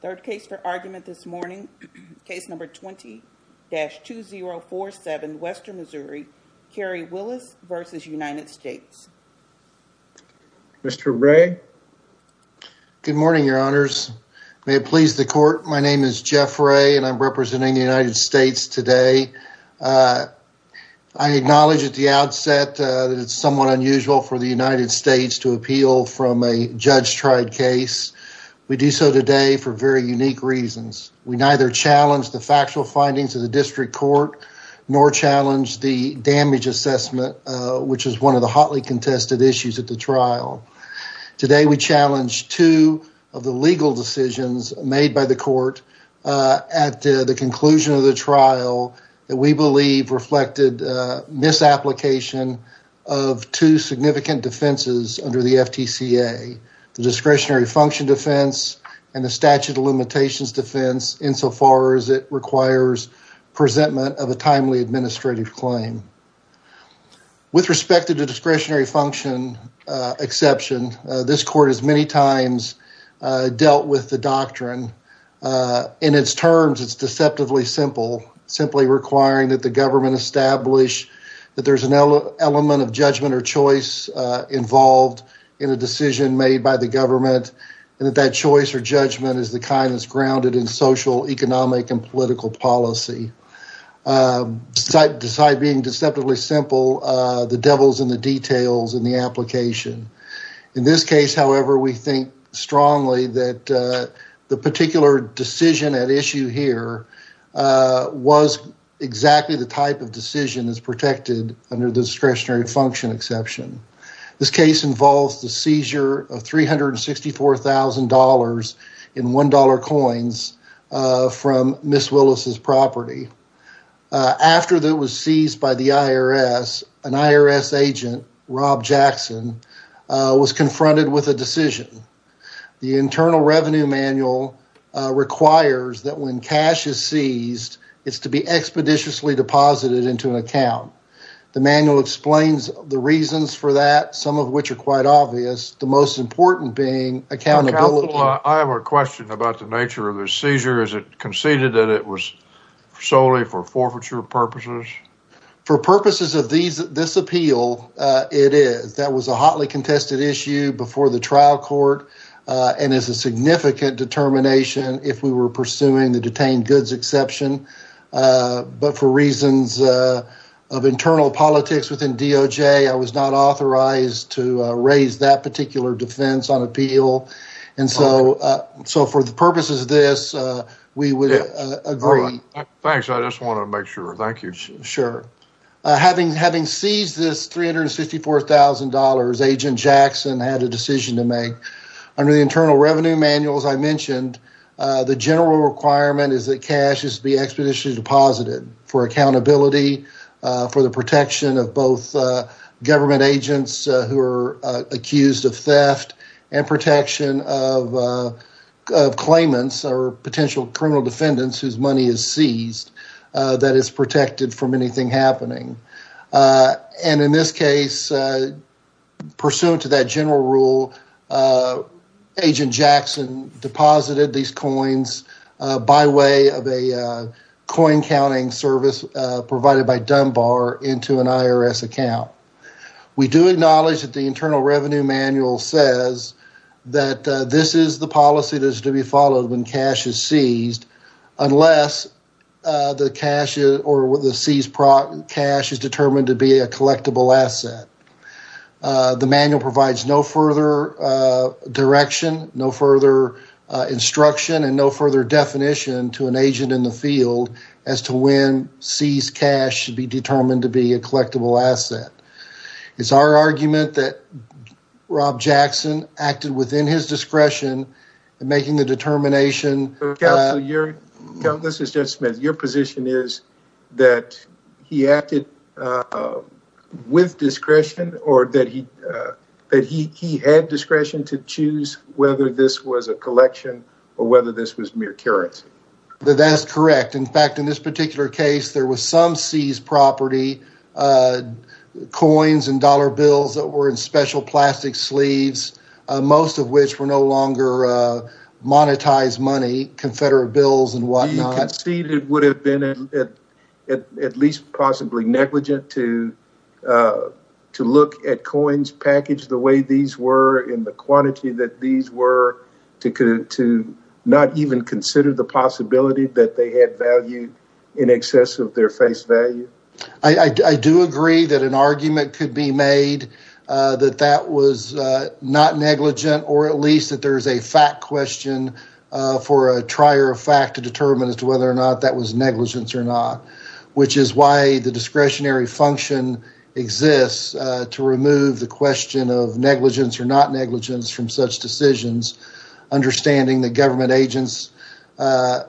Third case for argument this morning, case number 20-2047, Western Missouri, Kerry Willis v. United States. Mr. Wray. Good morning, your honors. May it please the court, my name is Jeff Wray and I'm representing the United States today. I acknowledge at the outset that it's somewhat unusual for the United States to appeal from a judge-tried case. We do so today for very unique reasons. We neither challenge the factual findings of the district court nor challenge the damage assessment which is one of the hotly contested issues at the trial. Today we challenge two of the legal decisions made by the court at the conclusion of the discretionary function defense and the statute of limitations defense insofar as it requires presentment of a timely administrative claim. With respect to the discretionary function exception, this court has many times dealt with the doctrine. In its terms, it's deceptively simple, simply requiring that the government establish that there's an element of judgment or choice involved in a decision made by the government and that that choice or judgment is the kind that's grounded in social, economic, and political policy. Besides being deceptively simple, the devil's in the details in the application. In this case, however, we think strongly that the particular decision at issue here was exactly the type of decision that's protected under the discretionary function exception. This case involves the seizure of $364,000 in $1 coins from Ms. Willis' property. After it was seized by the IRS, an IRS agent, Rob Jackson, was confronted with a decision. The Internal Revenue Manual requires that when cash is seized, it's to be expeditiously deposited into an account. The manual explains the reasons for that, some of which are quite obvious, the most important being accountability. Counsel, I have a question about the nature of the seizure. Is it conceded that it was solely for forfeiture purposes? For purposes of this appeal, it is. That was a hotly contested issue before the trial court and is a significant determination if we were pursuing the detained goods exception. For reasons of internal politics within DOJ, I was not authorized to raise that particular defense on appeal. For the purposes of this, we would agree. Thanks. I just want to make sure. Thank you. Sure. Having seized this $354,000, Agent Jackson had a decision to make. Under the Internal Revenue Manual, as I mentioned, the general requirement is that cash is to be expeditiously deposited for accountability, for the protection of both government agents who are accused of theft and protection of claimants or potential criminal defendants whose money is seized that is protected from anything happening. In this case, pursuant to that general rule, Agent Jackson deposited these coins by way of a coin counting service provided by Dunbar into an IRS account. We do acknowledge that the Internal Revenue Manual says that this is the policy that is to be followed when cash is seized unless the seized cash is determined to be a collectible asset. The manual provides no further direction, no further instruction, and no further definition to an agent in the field as to when seized cash should be determined to be a collectible asset. It's our argument that Rob Jackson acted within his discretion in making the determination... Counsel, this is Judge Smith. Your position is that he acted with discretion or that he had discretion to choose whether this was a collection or whether this was mere currency? That's correct. In fact, in this particular case, there was some seized property, coins and dollar bills that were in special plastic sleeves, most of which were no longer monetized money, Confederate bills and whatnot. Do you concede it would have been at least possibly negligent to look at coins packaged the way these were in the quantity that these were to not even consider the possibility that they had valued in excess of their face value? I do agree that an argument could be made that that was not negligent or at least that there's a fact question for a trier of fact to determine as to whether or not that was negligence or not, which is why the discretionary function exists to remove the question of negligence or not negligence from such decisions, understanding that government agents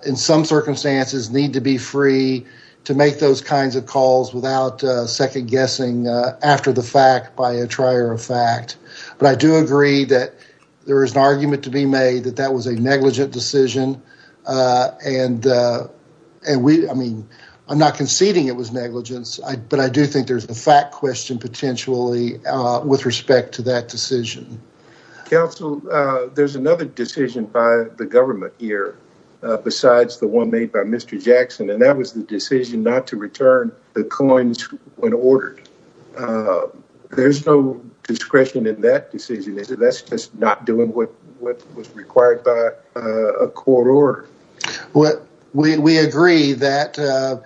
in some circumstances need to be free to make those kinds of calls without second guessing after the fact by a trier of fact. But I do agree that there is an argument to be made that that was a negligent decision and I'm not conceding it was negligence, but I do think there's a fact question potentially with respect to that decision. Counsel, there's another decision by the government here besides the one made by Mr. Jackson and that was the decision not to return the coins when ordered. There's no discretion in that decision, is it? That's just not doing what was required by a court order. We agree that, and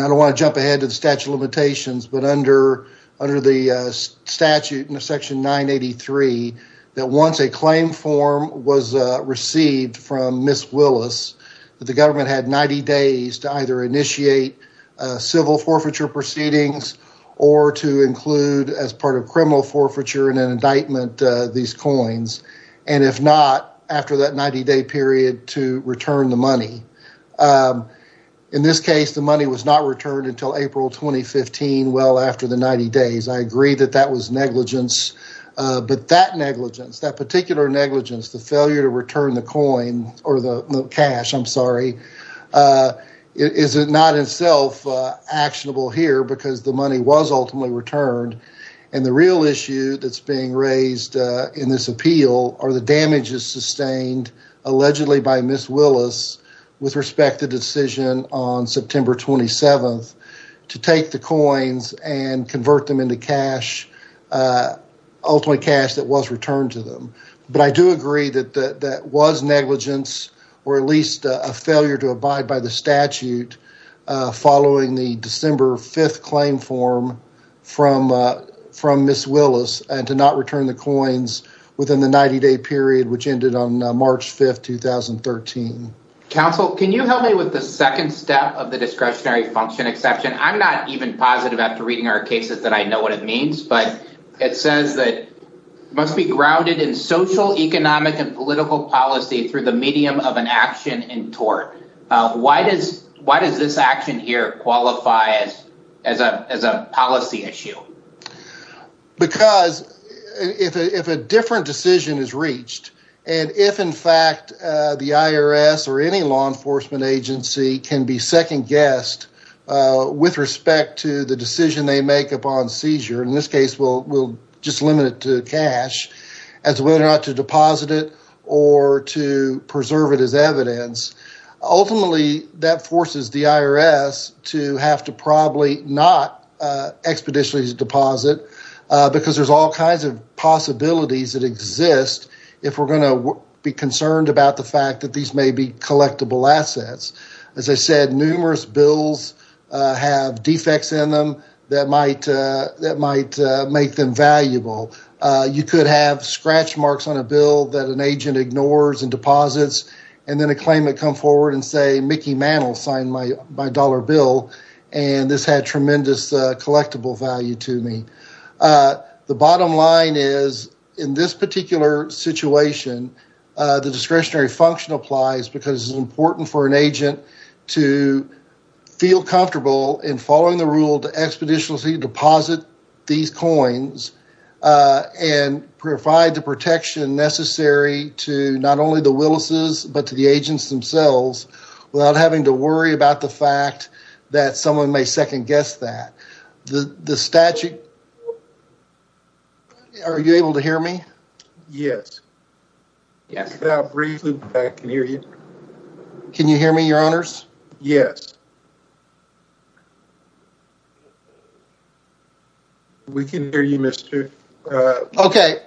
I don't want to jump ahead to the statute of limitations, but under the statute in section 983, that once a claim form was received from Ms. Willis, that the government had 90 days to either initiate civil forfeiture proceedings or to include as part of criminal forfeiture in an indictment these coins, and if not, after that 90-day period to return the money. In this case, the money was not returned until April 2015 well after the 90 days. I agree that that was negligence, but that negligence, that particular negligence, the failure to return the coin or the cash, I'm sorry, is not itself actionable here because the money was ultimately returned, and the real issue that's being raised in this appeal are the damages sustained allegedly by Ms. Willis with respect to the decision on September 27th to take the coins and convert them into cash, ultimately cash that was returned to them, but I do agree that that was negligence or at least a failure to abide by the statute following the December 5th claim form from Ms. Willis and to not return the coins within the 90-day period, which ended on March 5th, 2013. Counsel, can you help me with the second step of the discretionary function exception? I'm not even positive after reading our cases that I know what it means, but it says that it must be grounded in social, economic, and political policy through the medium of an action in tort. Why does this action here qualify as a policy issue? Because if a different decision is reached, and if in fact the IRS or any law enforcement agency can be second-guessed with respect to the decision they make upon seizure, in this case we'll just limit it to cash, as whether or not to deposit it or to preserve it as evidence, ultimately that forces the IRS to have to probably not expeditiously deposit, because there's all kinds of possibilities that exist if we're going to be concerned about the fact that these may be collectible assets. As I said, numerous bills have defects in them that might make them valuable. You could have scratch marks on a bill that an agent ignores and deposits, and then a claimant come forward and say, Mickey Mantle signed my dollar bill, and this had tremendous collectible value to me. The bottom line is, in this particular situation, the discretionary function applies because it's important for an agent to feel comfortable in following the rule to expeditiously deposit these coins and provide the protection necessary to not only the Willis's, but to the agents themselves, without having to worry about the fact that someone may second-guess that. The statute, are you able to hear me? Yes. Yes, I can hear you. Can you hear me, your honors? Yes. We can hear you, Mr. Ray. Okay.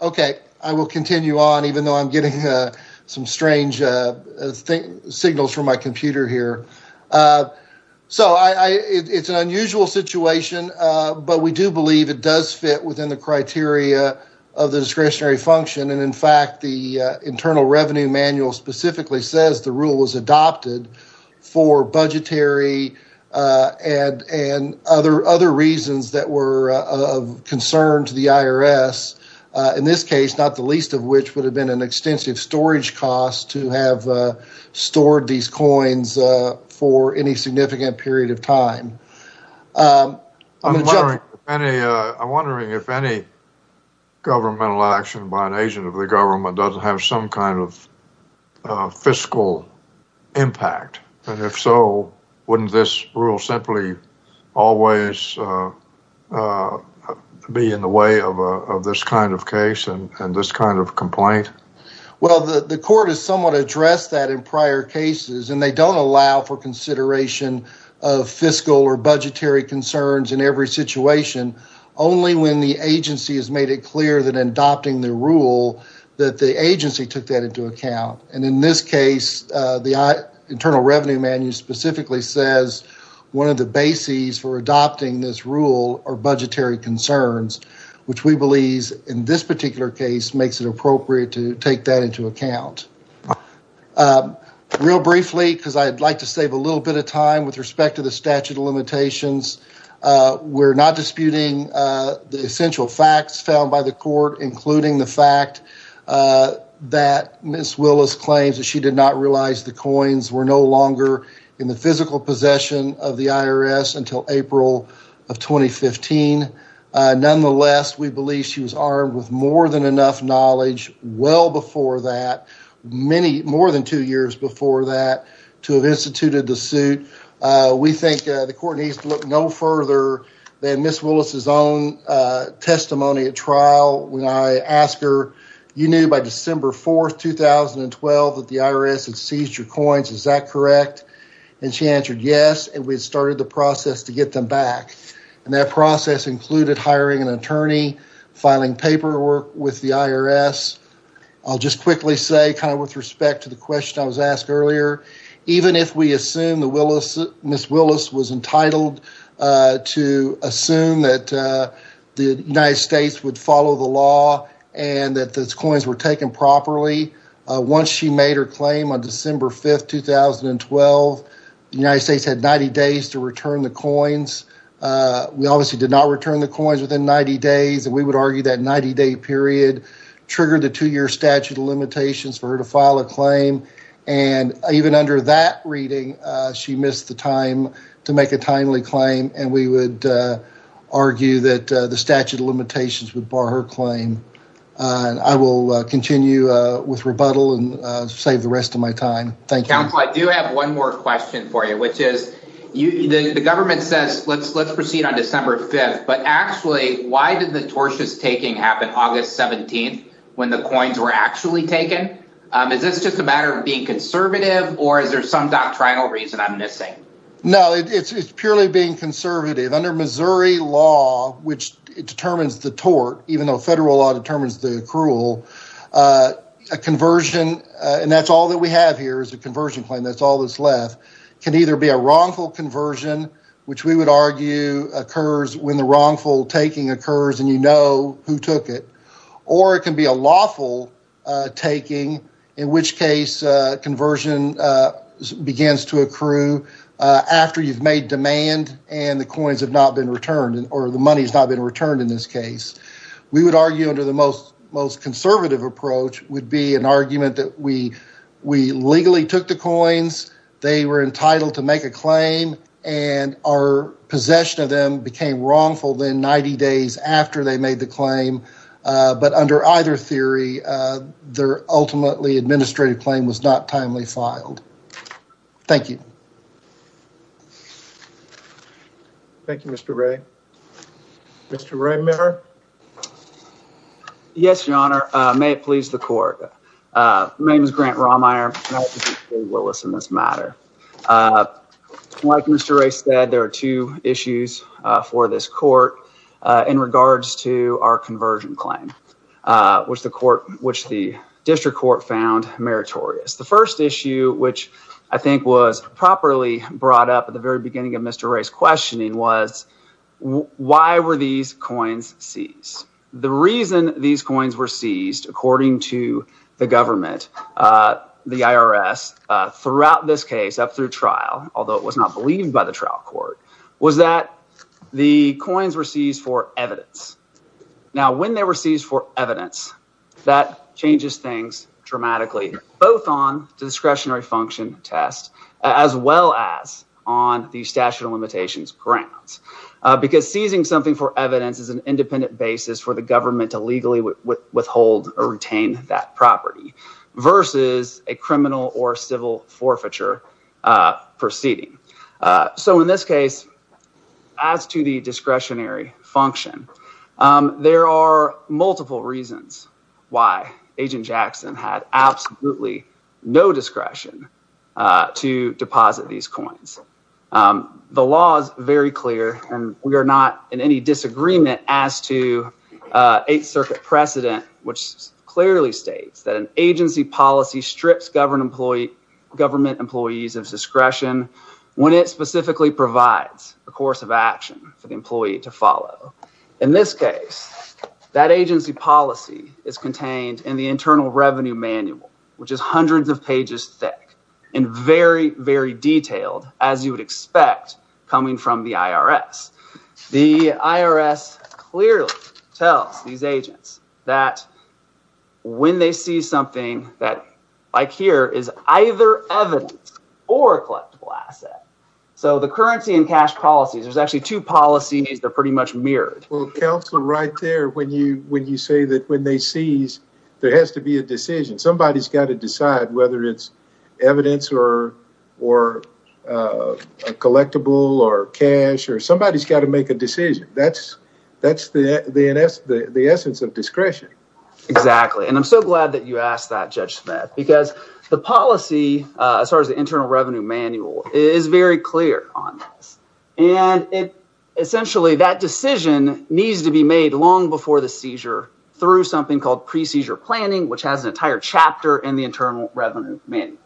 Okay. I will continue on, even though I'm getting some strange signals from my computer here. So, it's an unusual situation, but we do believe it does fit within the criteria of the discretionary function, and in fact, the Internal Revenue Manual specifically says the rule was adopted for budgetary and other reasons that were of concern to the IRS, in this case, not the least of which would have been an extensive storage cost to have stored these coins for any significant period of time. I'm wondering if any governmental action by an agent of the government doesn't have some kind of fiscal impact, and if so, wouldn't this rule simply always be in the way of this kind of case and this kind of complaint? Well, the court has somewhat addressed that in prior cases, and they don't allow for consideration of fiscal or budgetary concerns in every situation, only when the agency has made it that the agency took that into account, and in this case, the Internal Revenue Manual specifically says one of the bases for adopting this rule are budgetary concerns, which we believe in this particular case makes it appropriate to take that into account. Real briefly, because I'd like to save a little bit of time with respect to the statute of limitations, we're not disputing the essential facts found by the court, including the fact that Ms. Willis claims that she did not realize the coins were no longer in the physical possession of the IRS until April of 2015. Nonetheless, we believe she was armed with more than enough knowledge well before that, more than two years before that, to have instituted the suit. We think the court needs to look no further than Ms. Willis' own testimony at trial when I asked her, you knew by December 4, 2012, that the IRS had seized your coins, is that correct? And she answered yes, and we started the process to get them back, and that process included hiring an attorney, filing paperwork with the IRS. I'll just quickly say, kind of with respect to the question I was asked earlier, even if we assume Ms. Willis was entitled to assume that the United States would follow the law and that the coins were taken properly, once she made her claim on December 5, 2012, the United States had 90 days to return the coins. We obviously did not return the coins within 90 days, and we would argue that 90-day period triggered the two-year statute of limitations for her to file a claim, and even under that reading, she missed the time to make a timely claim, and we would argue that the statute of limitations would bar her claim. And I will continue with rebuttal and save the rest of my time. Thank you. Counsel, I do have one more question for you, which is, the government says, let's proceed on December 5, but actually, why did the tortious taking happen August 17, when the coins were actually taken? Is this just a matter of being conservative, or is there some doctrinal reason I'm missing? No, it's purely being conservative. Under Missouri law, which determines the tort, even though federal law determines the accrual, a conversion, and that's all that we have here is a conversion claim, that's all that's left, can either be a wrongful conversion, which we would argue occurs when the wrongful taking occurs, and you know who took it, or it can be a lawful taking, in which case conversion begins to accrue after you've made demand, and the coins have not been returned, or the money has not been returned in this case. We would argue under the most conservative approach would be an argument that we legally took the coins, they were entitled to make a claim, and our after they made the claim, but under either theory, their ultimately administrative claim was not timely filed. Thank you. Thank you, Mr. Ray. Mr. Ray Miller? Yes, your honor. May it please the court. My name is Grant Romeyer. Like Mr. Ray said, there are two issues for this court. In regards to our conversion claim, which the court, which the district court found meritorious. The first issue, which I think was properly brought up at the very beginning of Mr. Ray's questioning was, why were these coins seized? The reason these coins were seized, according to the government, the IRS, throughout this case up through trial, although it was not believed by the trial court, was that the coins were seized for evidence. Now, when they were seized for evidence, that changes things dramatically, both on discretionary function tests, as well as on the statute of limitations grounds, because seizing something for evidence is an independent basis for the government to legally withhold or retain that property, versus a criminal or civil forfeiture proceeding. So in this case, as to the discretionary function, there are multiple reasons why Agent Jackson had absolutely no discretion to deposit these coins. The law is very clear, and we are not in any disagreement as to 8th Circuit precedent, which clearly states that agency policy strips government employees of discretion when it specifically provides a course of action for the employee to follow. In this case, that agency policy is contained in the Internal Revenue Manual, which is hundreds of pages thick, and very, very detailed, as you would that, like here, is either evidence or a collectible asset. So the currency and cash policies, there's actually two policies that are pretty much mirrored. Well, Counselor, right there, when you say that when they seize, there has to be a decision. Somebody's got to decide whether it's evidence or a collectible or cash, or somebody's got to make a decision. That's the essence of discretion. Exactly. And I'm so glad that you asked that, Judge Smith, because the policy, as far as the Internal Revenue Manual, is very clear on this. And essentially, that decision needs to be made long before the seizure through something called pre-seizure planning, which has an entire chapter in the Internal Revenue Manual.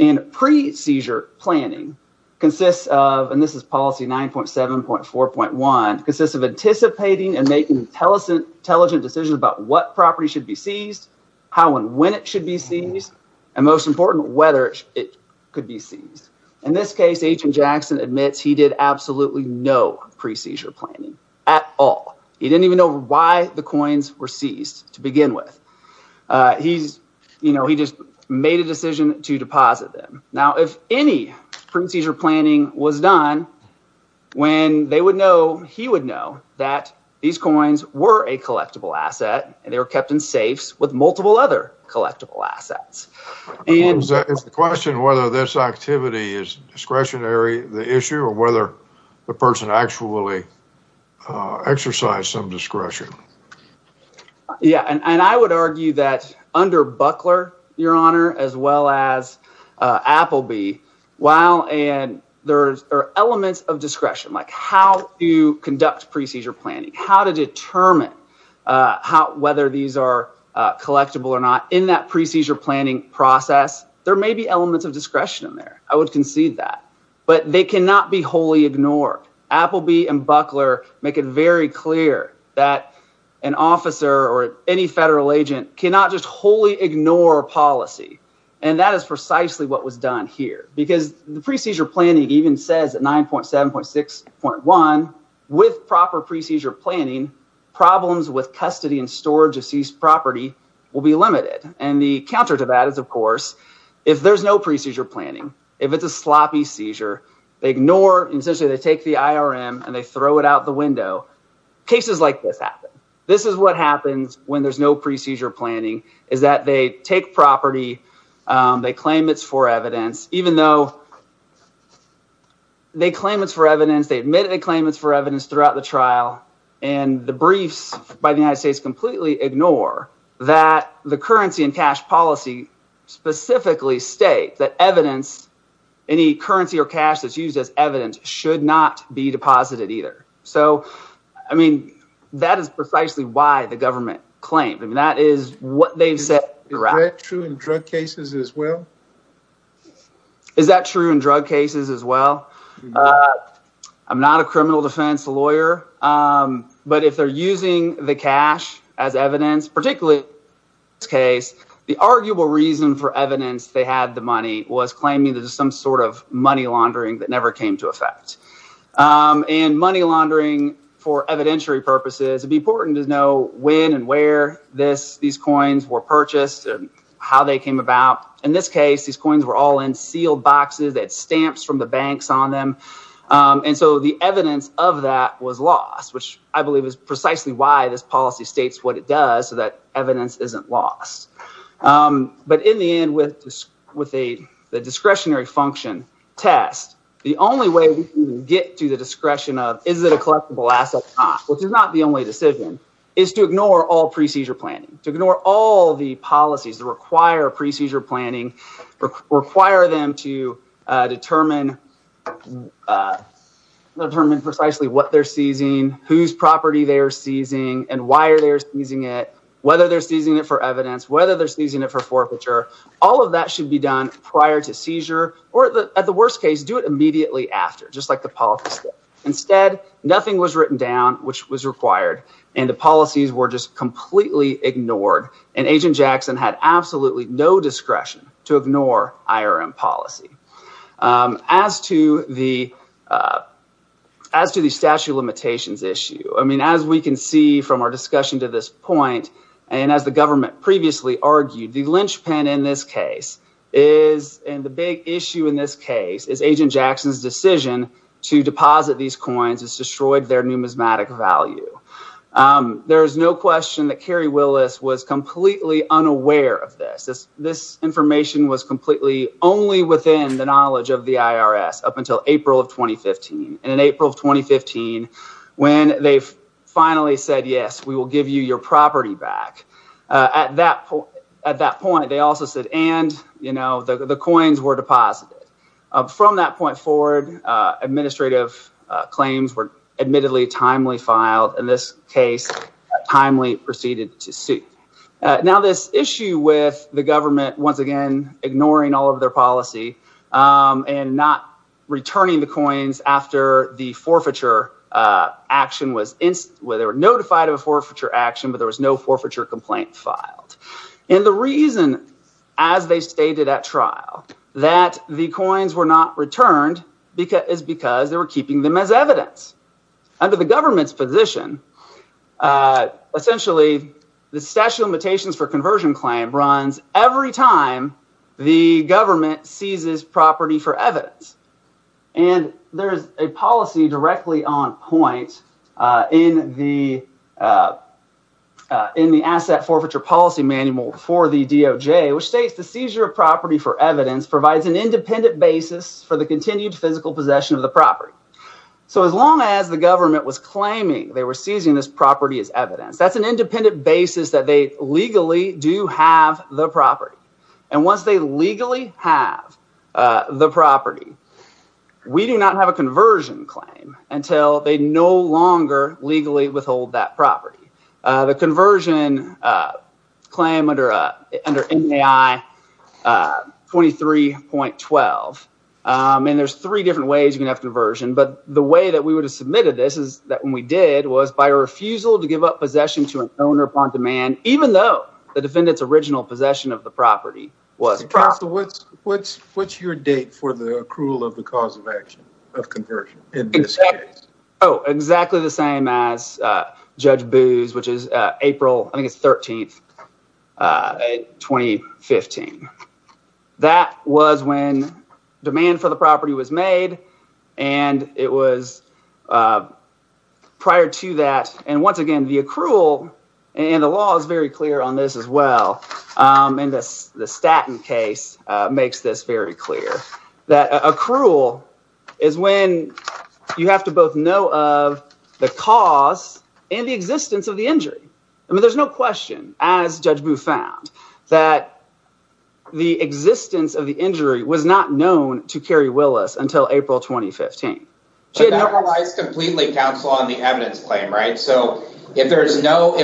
And pre-seizure planning consists of, and this is policy 9.7.4.1, consists of anticipating and making intelligent decisions about what property should be seized, how and when it should be seized, and most important, whether it could be seized. In this case, Agent Jackson admits he did absolutely no pre-seizure planning at all. He didn't even know why the coins were seized to begin with. He just made a decision to deposit them. Now, if any pre-seizure planning was done, when they would know, he would know that these coins were a collectible asset, and they were kept in safes with multiple other collectible assets. It's the question whether this activity is discretionary, the issue, or whether the person actually exercised some discretion. Yeah, and I would argue that under Buckler, Your Honor, as well as Appleby, while there are elements of discretion, like how you conduct pre-seizure planning, how to determine whether these are collectible or not, in that pre-seizure planning process, there may be elements of discretion in there. I would concede that. But they cannot be wholly ignored. Appleby and Buckler make it very clear that an officer or any federal agent cannot just wholly ignore policy. And that is precisely what was done here. Because the pre-seizure planning even says at 9.7.6.1, with proper pre-seizure planning, problems with custody and storage of seized property will be limited. And the counter to that is, of course, if there's no pre-seizure planning, if it's a sloppy seizure, they ignore, and essentially they take the IRM and they throw it out the window. Cases like this happen. This is what happens when there's no pre-seizure planning, is that they take property, they claim it's for evidence, even though they claim it's for evidence, they admit it's for evidence throughout the trial, and the briefs by the United States completely ignore that the currency and specifically state that evidence, any currency or cash that's used as evidence should not be deposited either. So, I mean, that is precisely why the government claimed. I mean, that is what they've said throughout. Is that true in drug cases as well? Is that true in drug cases as well? I'm not a criminal defense lawyer, but if they're using the cash as evidence, particularly in this case, the arguable reason for evidence they had the money was claiming that there's some sort of money laundering that never came to effect. And money laundering for evidentiary purposes, it'd be important to know when and where these coins were purchased and how they came about. In this case, these coins were all in sealed boxes that had stamps from the banks on them. And so the evidence of that was lost, which I believe is precisely why this policy states what it does, so that evidence isn't lost. But in the end, with the discretionary function test, the only way we can get to the discretion of is it a collectible asset or not, which is not the only decision, is to ignore all pre-seizure planning, to ignore all the policies that require pre-seizure planning, require them to determine precisely what they're seizing, whose property they're seizing, and why they're seizing it, whether they're seizing it for evidence, whether they're seizing it for forfeiture. All of that should be done prior to seizure, or at the worst case, do it immediately after, just like the policy. Instead, nothing was written down, which was required, and the policies were just completely ignored. And Agent Jackson had I mean, as we can see from our discussion to this point, and as the government previously argued, the linchpin in this case is, and the big issue in this case, is Agent Jackson's decision to deposit these coins has destroyed their numismatic value. There is no question that Carrie Willis was completely unaware of this. This information was completely only within the they finally said, yes, we will give you your property back. At that point, they also said, and, you know, the coins were deposited. From that point forward, administrative claims were admittedly timely filed. In this case, timely proceeded to suit. Now, this issue with the government, once again, ignoring all of their policy, and not returning the coins after the forfeiture action was, where they were notified of a forfeiture action, but there was no forfeiture complaint filed. And the reason, as they stated at trial, that the coins were not returned is because they were keeping them as evidence. Under the government's position, essentially, the statute of limitations for conversion claim runs every time the government seizes property for evidence. And there is a policy directly on point in the asset forfeiture policy manual for the DOJ, which states the seizure of property for evidence provides an independent basis for the continued physical possession of the property. So, as long as the government was claiming they were seizing this property as evidence, that's an independent basis that they legally do have the property. And once they legally have the property, we do not have a conversion claim until they no longer legally withhold that property. The conversion claim under NAI 23.12, and there's three different ways you can have conversion, but the way that we would have submitted this is that when we did was by refusal to give up possession to an owner upon demand, even though the defendant's original possession of the property was. What's your date for the accrual of the cause of action of conversion in this case? Oh, exactly the same as Judge Booz, which is April, I think it's 13, 2015. That was when demand for the property was made, and it was prior to that. And once again, the accrual and the law is very clear on this as well. And the Staton case makes this very clear. That accrual is when you have to both know of the cause and the existence of the injury. I mean, no question, as Judge Booz found, that the existence of the injury was not known to Kerry Willis until April, 2015. But that relies completely, counsel, on the evidence claim, right? So if there's no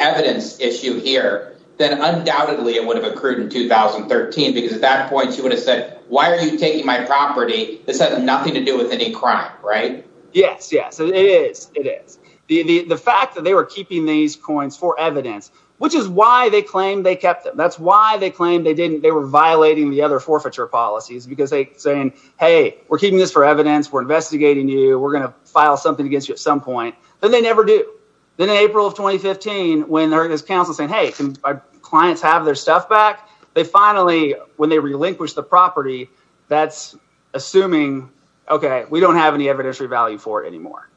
evidence issue here, then undoubtedly it would have accrued in 2013, because at that point she would have said, why are you taking my property? This has nothing to coins for evidence, which is why they claimed they kept them. That's why they claimed they didn't. They were violating the other forfeiture policies because they're saying, hey, we're keeping this for evidence. We're investigating you. We're going to file something against you at some point. And they never do. Then in April of 2015, when there is counsel saying, hey, can my clients have their stuff back? They finally, when they relinquish the property, that's assuming, okay, we don't have any evidentiary value for it anymore.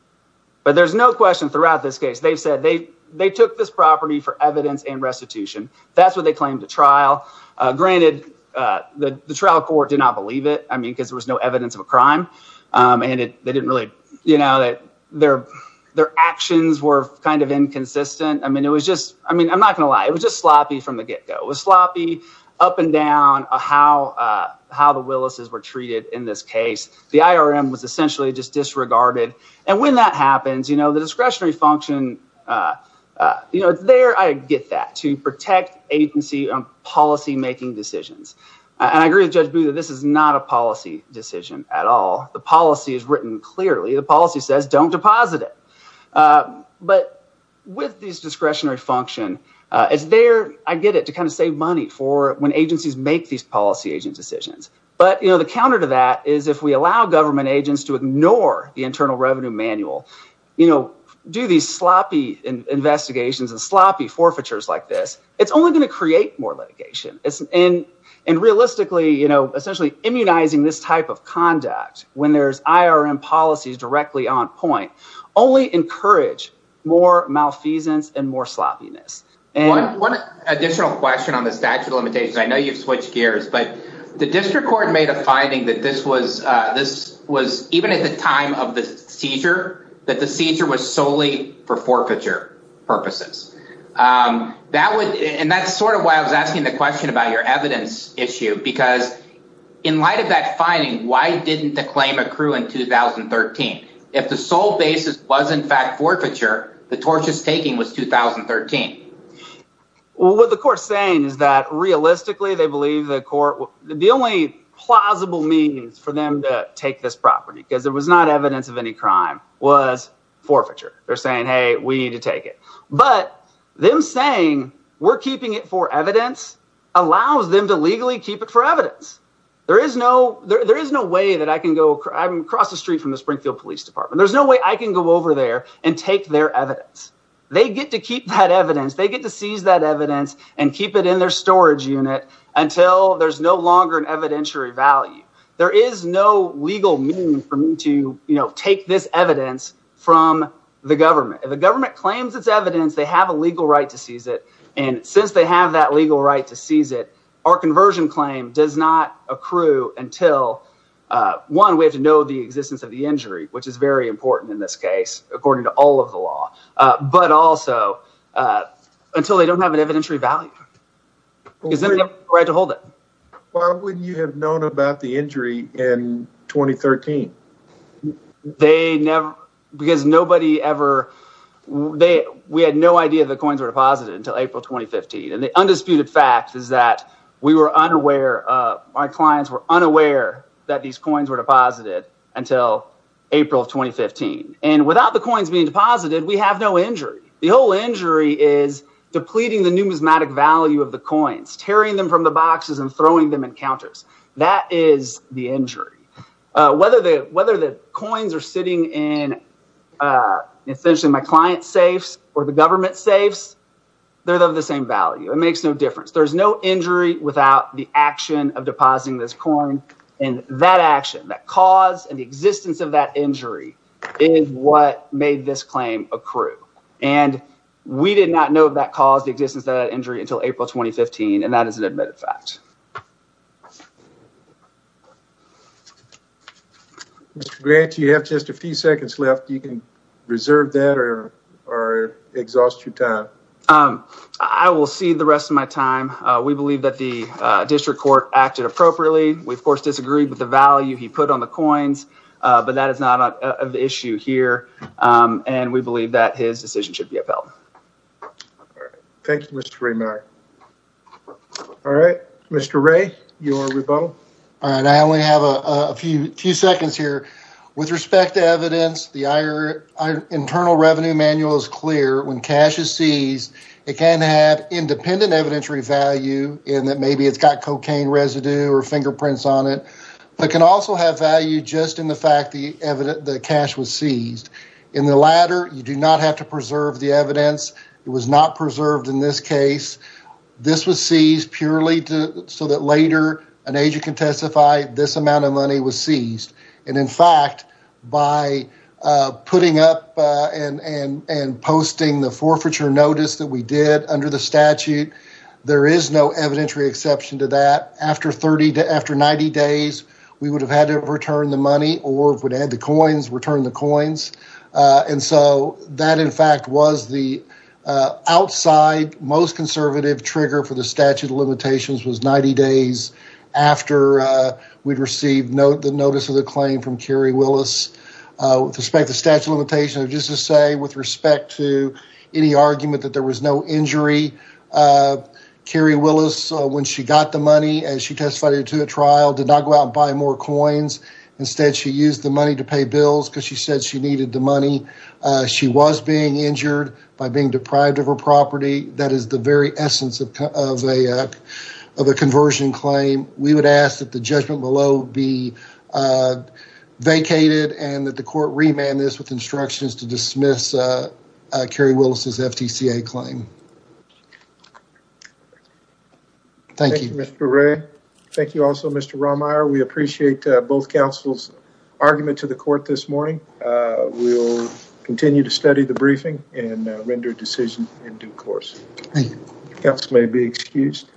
But there's no question throughout this case, they've said they took this property for evidence and restitution. That's what they claimed to trial. Granted, the trial court did not believe it, I mean, because there was no evidence of a crime. And they didn't really, you know, their actions were kind of inconsistent. I mean, it was just, I mean, I'm not going to lie, it was just sloppy from the get go. It was sloppy up and down how the Willis's were treated in this function. It's there, I get that, to protect agency policy making decisions. And I agree with Judge Booth that this is not a policy decision at all. The policy is written clearly. The policy says don't deposit it. But with this discretionary function, it's there, I get it, to kind of save money for when agencies make these policy agent decisions. But the counter to that is if we allow government agents to ignore the Internal Revenue Manual, you know, do these sloppy investigations and sloppy forfeitures like this, it's only going to create more litigation. And realistically, you know, essentially immunizing this type of conduct when there's IRM policies directly on point, only encourage more malfeasance and more sloppiness. One additional question on the statute of limitations. I know you've switched gears, but the district court made a finding that this was, this was, even at the time of the seizure, that the seizure was solely for forfeiture purposes. That would, and that's sort of why I was asking the question about your evidence issue, because in light of that finding, why didn't the claim accrue in 2013? If the sole basis was in fact they believe the court, the only plausible means for them to take this property, because there was not evidence of any crime, was forfeiture. They're saying, hey, we need to take it. But them saying we're keeping it for evidence allows them to legally keep it for evidence. There is no, there is no way that I can go, I'm across the street from the Springfield Police Department, there's no way I can go over there and take their evidence. They get to keep that until there's no longer an evidentiary value. There is no legal mean for me to, you know, take this evidence from the government. If the government claims it's evidence, they have a legal right to seize it. And since they have that legal right to seize it, our conversion claim does not accrue until, one, we have to know the existence of the injury, which is very important in this case, according to all of the law, but also until they don't have an evidentiary value. Because then they have a right to hold it. Why wouldn't you have known about the injury in 2013? They never, because nobody ever, we had no idea the coins were deposited until April 2015. And the undisputed fact is that we were unaware, our clients were unaware that these coins were deposited until April of 2015. And without the coins being deposited, we have no injury. The injury is depleting the numismatic value of the coins, tearing them from the boxes and throwing them in counters. That is the injury. Whether the coins are sitting in essentially my client safes or the government safes, they're of the same value. It makes no difference. There's no injury without the action of depositing this coin. And that action, that cause and the existence of that we did not know that caused the existence of that injury until April 2015. And that is an admitted fact. Mr. Grant, you have just a few seconds left. You can reserve that or exhaust your time. I will cede the rest of my time. We believe that the district court acted appropriately. We of course disagreed with the value he put on the coins, but that is not an issue here. And we believe that his decision should be upheld. All right. Thank you, Mr. Raymire. All right. Mr. Ray, you want to rebuttal? All right. I only have a few seconds here. With respect to evidence, the Internal Revenue Manual is clear. When cash is seized, it can have independent evidentiary value in that maybe it's got cocaine residue or fingerprints on it, but can also have value just in the fact that cash was seized. In the latter, you do not have to preserve the evidence. It was not preserved in this case. This was seized purely so that later an agent can testify this amount of money was seized. And in fact, by putting up and posting the forfeiture notice that we did under the statute, there is no evidentiary exception to that. After 90 days, we would have had to return the money or if we had the coins, return the coins. And so that in fact was the outside, most conservative trigger for the statute of limitations was 90 days after we'd received the notice of the claim from Carrie Willis. With respect to statute of limitations, just to say with respect to any argument that there was no injury, Carrie Willis, when she got the money and she testified it to a trial, did not go out and buy more coins. Instead, she used the money to pay bills because she said she needed the money. She was being injured by being deprived of her property. That is the very essence of a conversion claim. We would ask that the judgment below be vacated and that the court remand this with instructions to dismiss Carrie Willis' FTCA claim. Thank you. Thank you, Mr. Ray. Thank you also, Mr. Romeyer. We appreciate both counsel's argument to the court this morning. We will continue to study the briefing and render a decision in due course. Thank you. Counsel may be excused.